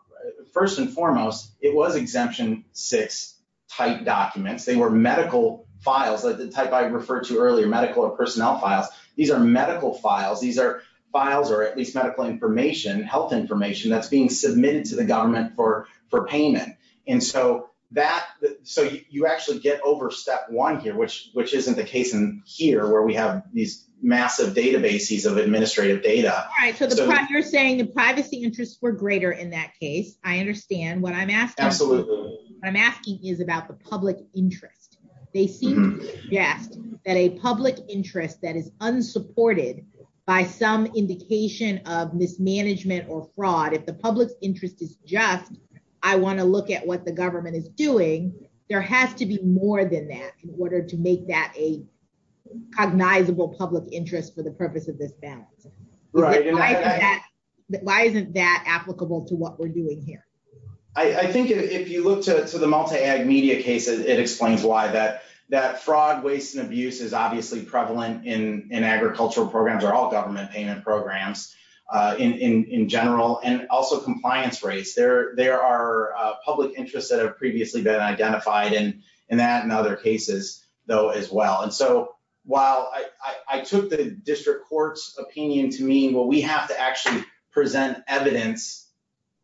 first and foremost it was exemption six type documents they were medical files like the type i referred to earlier medical or personnel files these are medical files these are files or at least medical information health information that's being submitted to the government for for payment and so that so you actually get over step one here which which isn't the case in here where we have these massive databases of administrative data all right so you're saying the privacy interests were greater in that case i understand what i'm asking absolutely what i'm asking is about the public interest they seem yes that a public interest that is unsupported by some indication of mismanagement or fraud if the public's interest is just i want to look at what the government is doing there has to be more than that in order to make that a cognizable public interest for the purpose of this balance right but why isn't that applicable to what we're doing here i i think if you look to the multi-ag media cases it explains why that that fraud waste and abuse is obviously prevalent in in agricultural programs or all government payment programs uh in in in general and also compliance rates there there are uh public interests that have previously been identified and and that in other cases though as well and so while i i took the district court's opinion to mean well we have to actually present evidence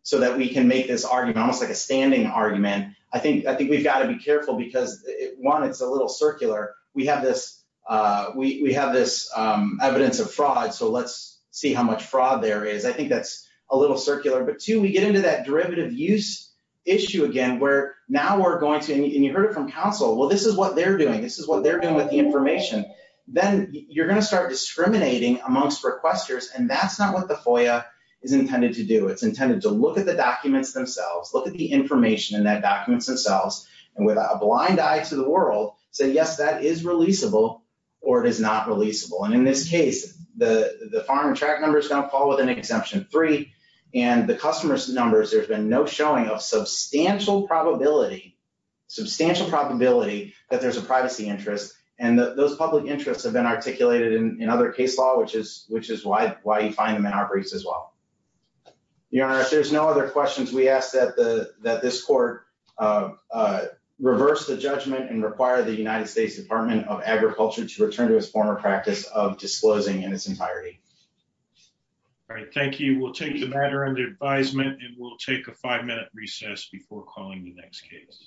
so that we can make this argument almost like a standing argument i think i think we've got to be careful because one it's a little circular we have this uh we we have this um evidence of fraud so let's see how much fraud there is i think that's a little circular but two we get into that derivative use issue again where now we're going to and you heard it from counsel well this is what they're doing this is what they're doing with the information then you're going to start discriminating amongst requesters and that's not what the foia is intended to do it's intended to look at the documents themselves look at the information in that documents themselves and with a blind eye to the world say yes that is releasable or it is not releasable and in this case the the farm and track number is going to fall with an exemption three and the customer's numbers there's been no showing of substantial probability substantial probability that there's a privacy interest and those public interests have been articulated in other case law which is which is why why you find them in our briefs as well your honor if there's no other questions we ask that the that this court uh uh reverse the judgment and require the united states department of agriculture to return to its former practice of disclosing in its entirety all right thank you we'll take the matter under advisement and we'll take a five-minute recess before calling the next case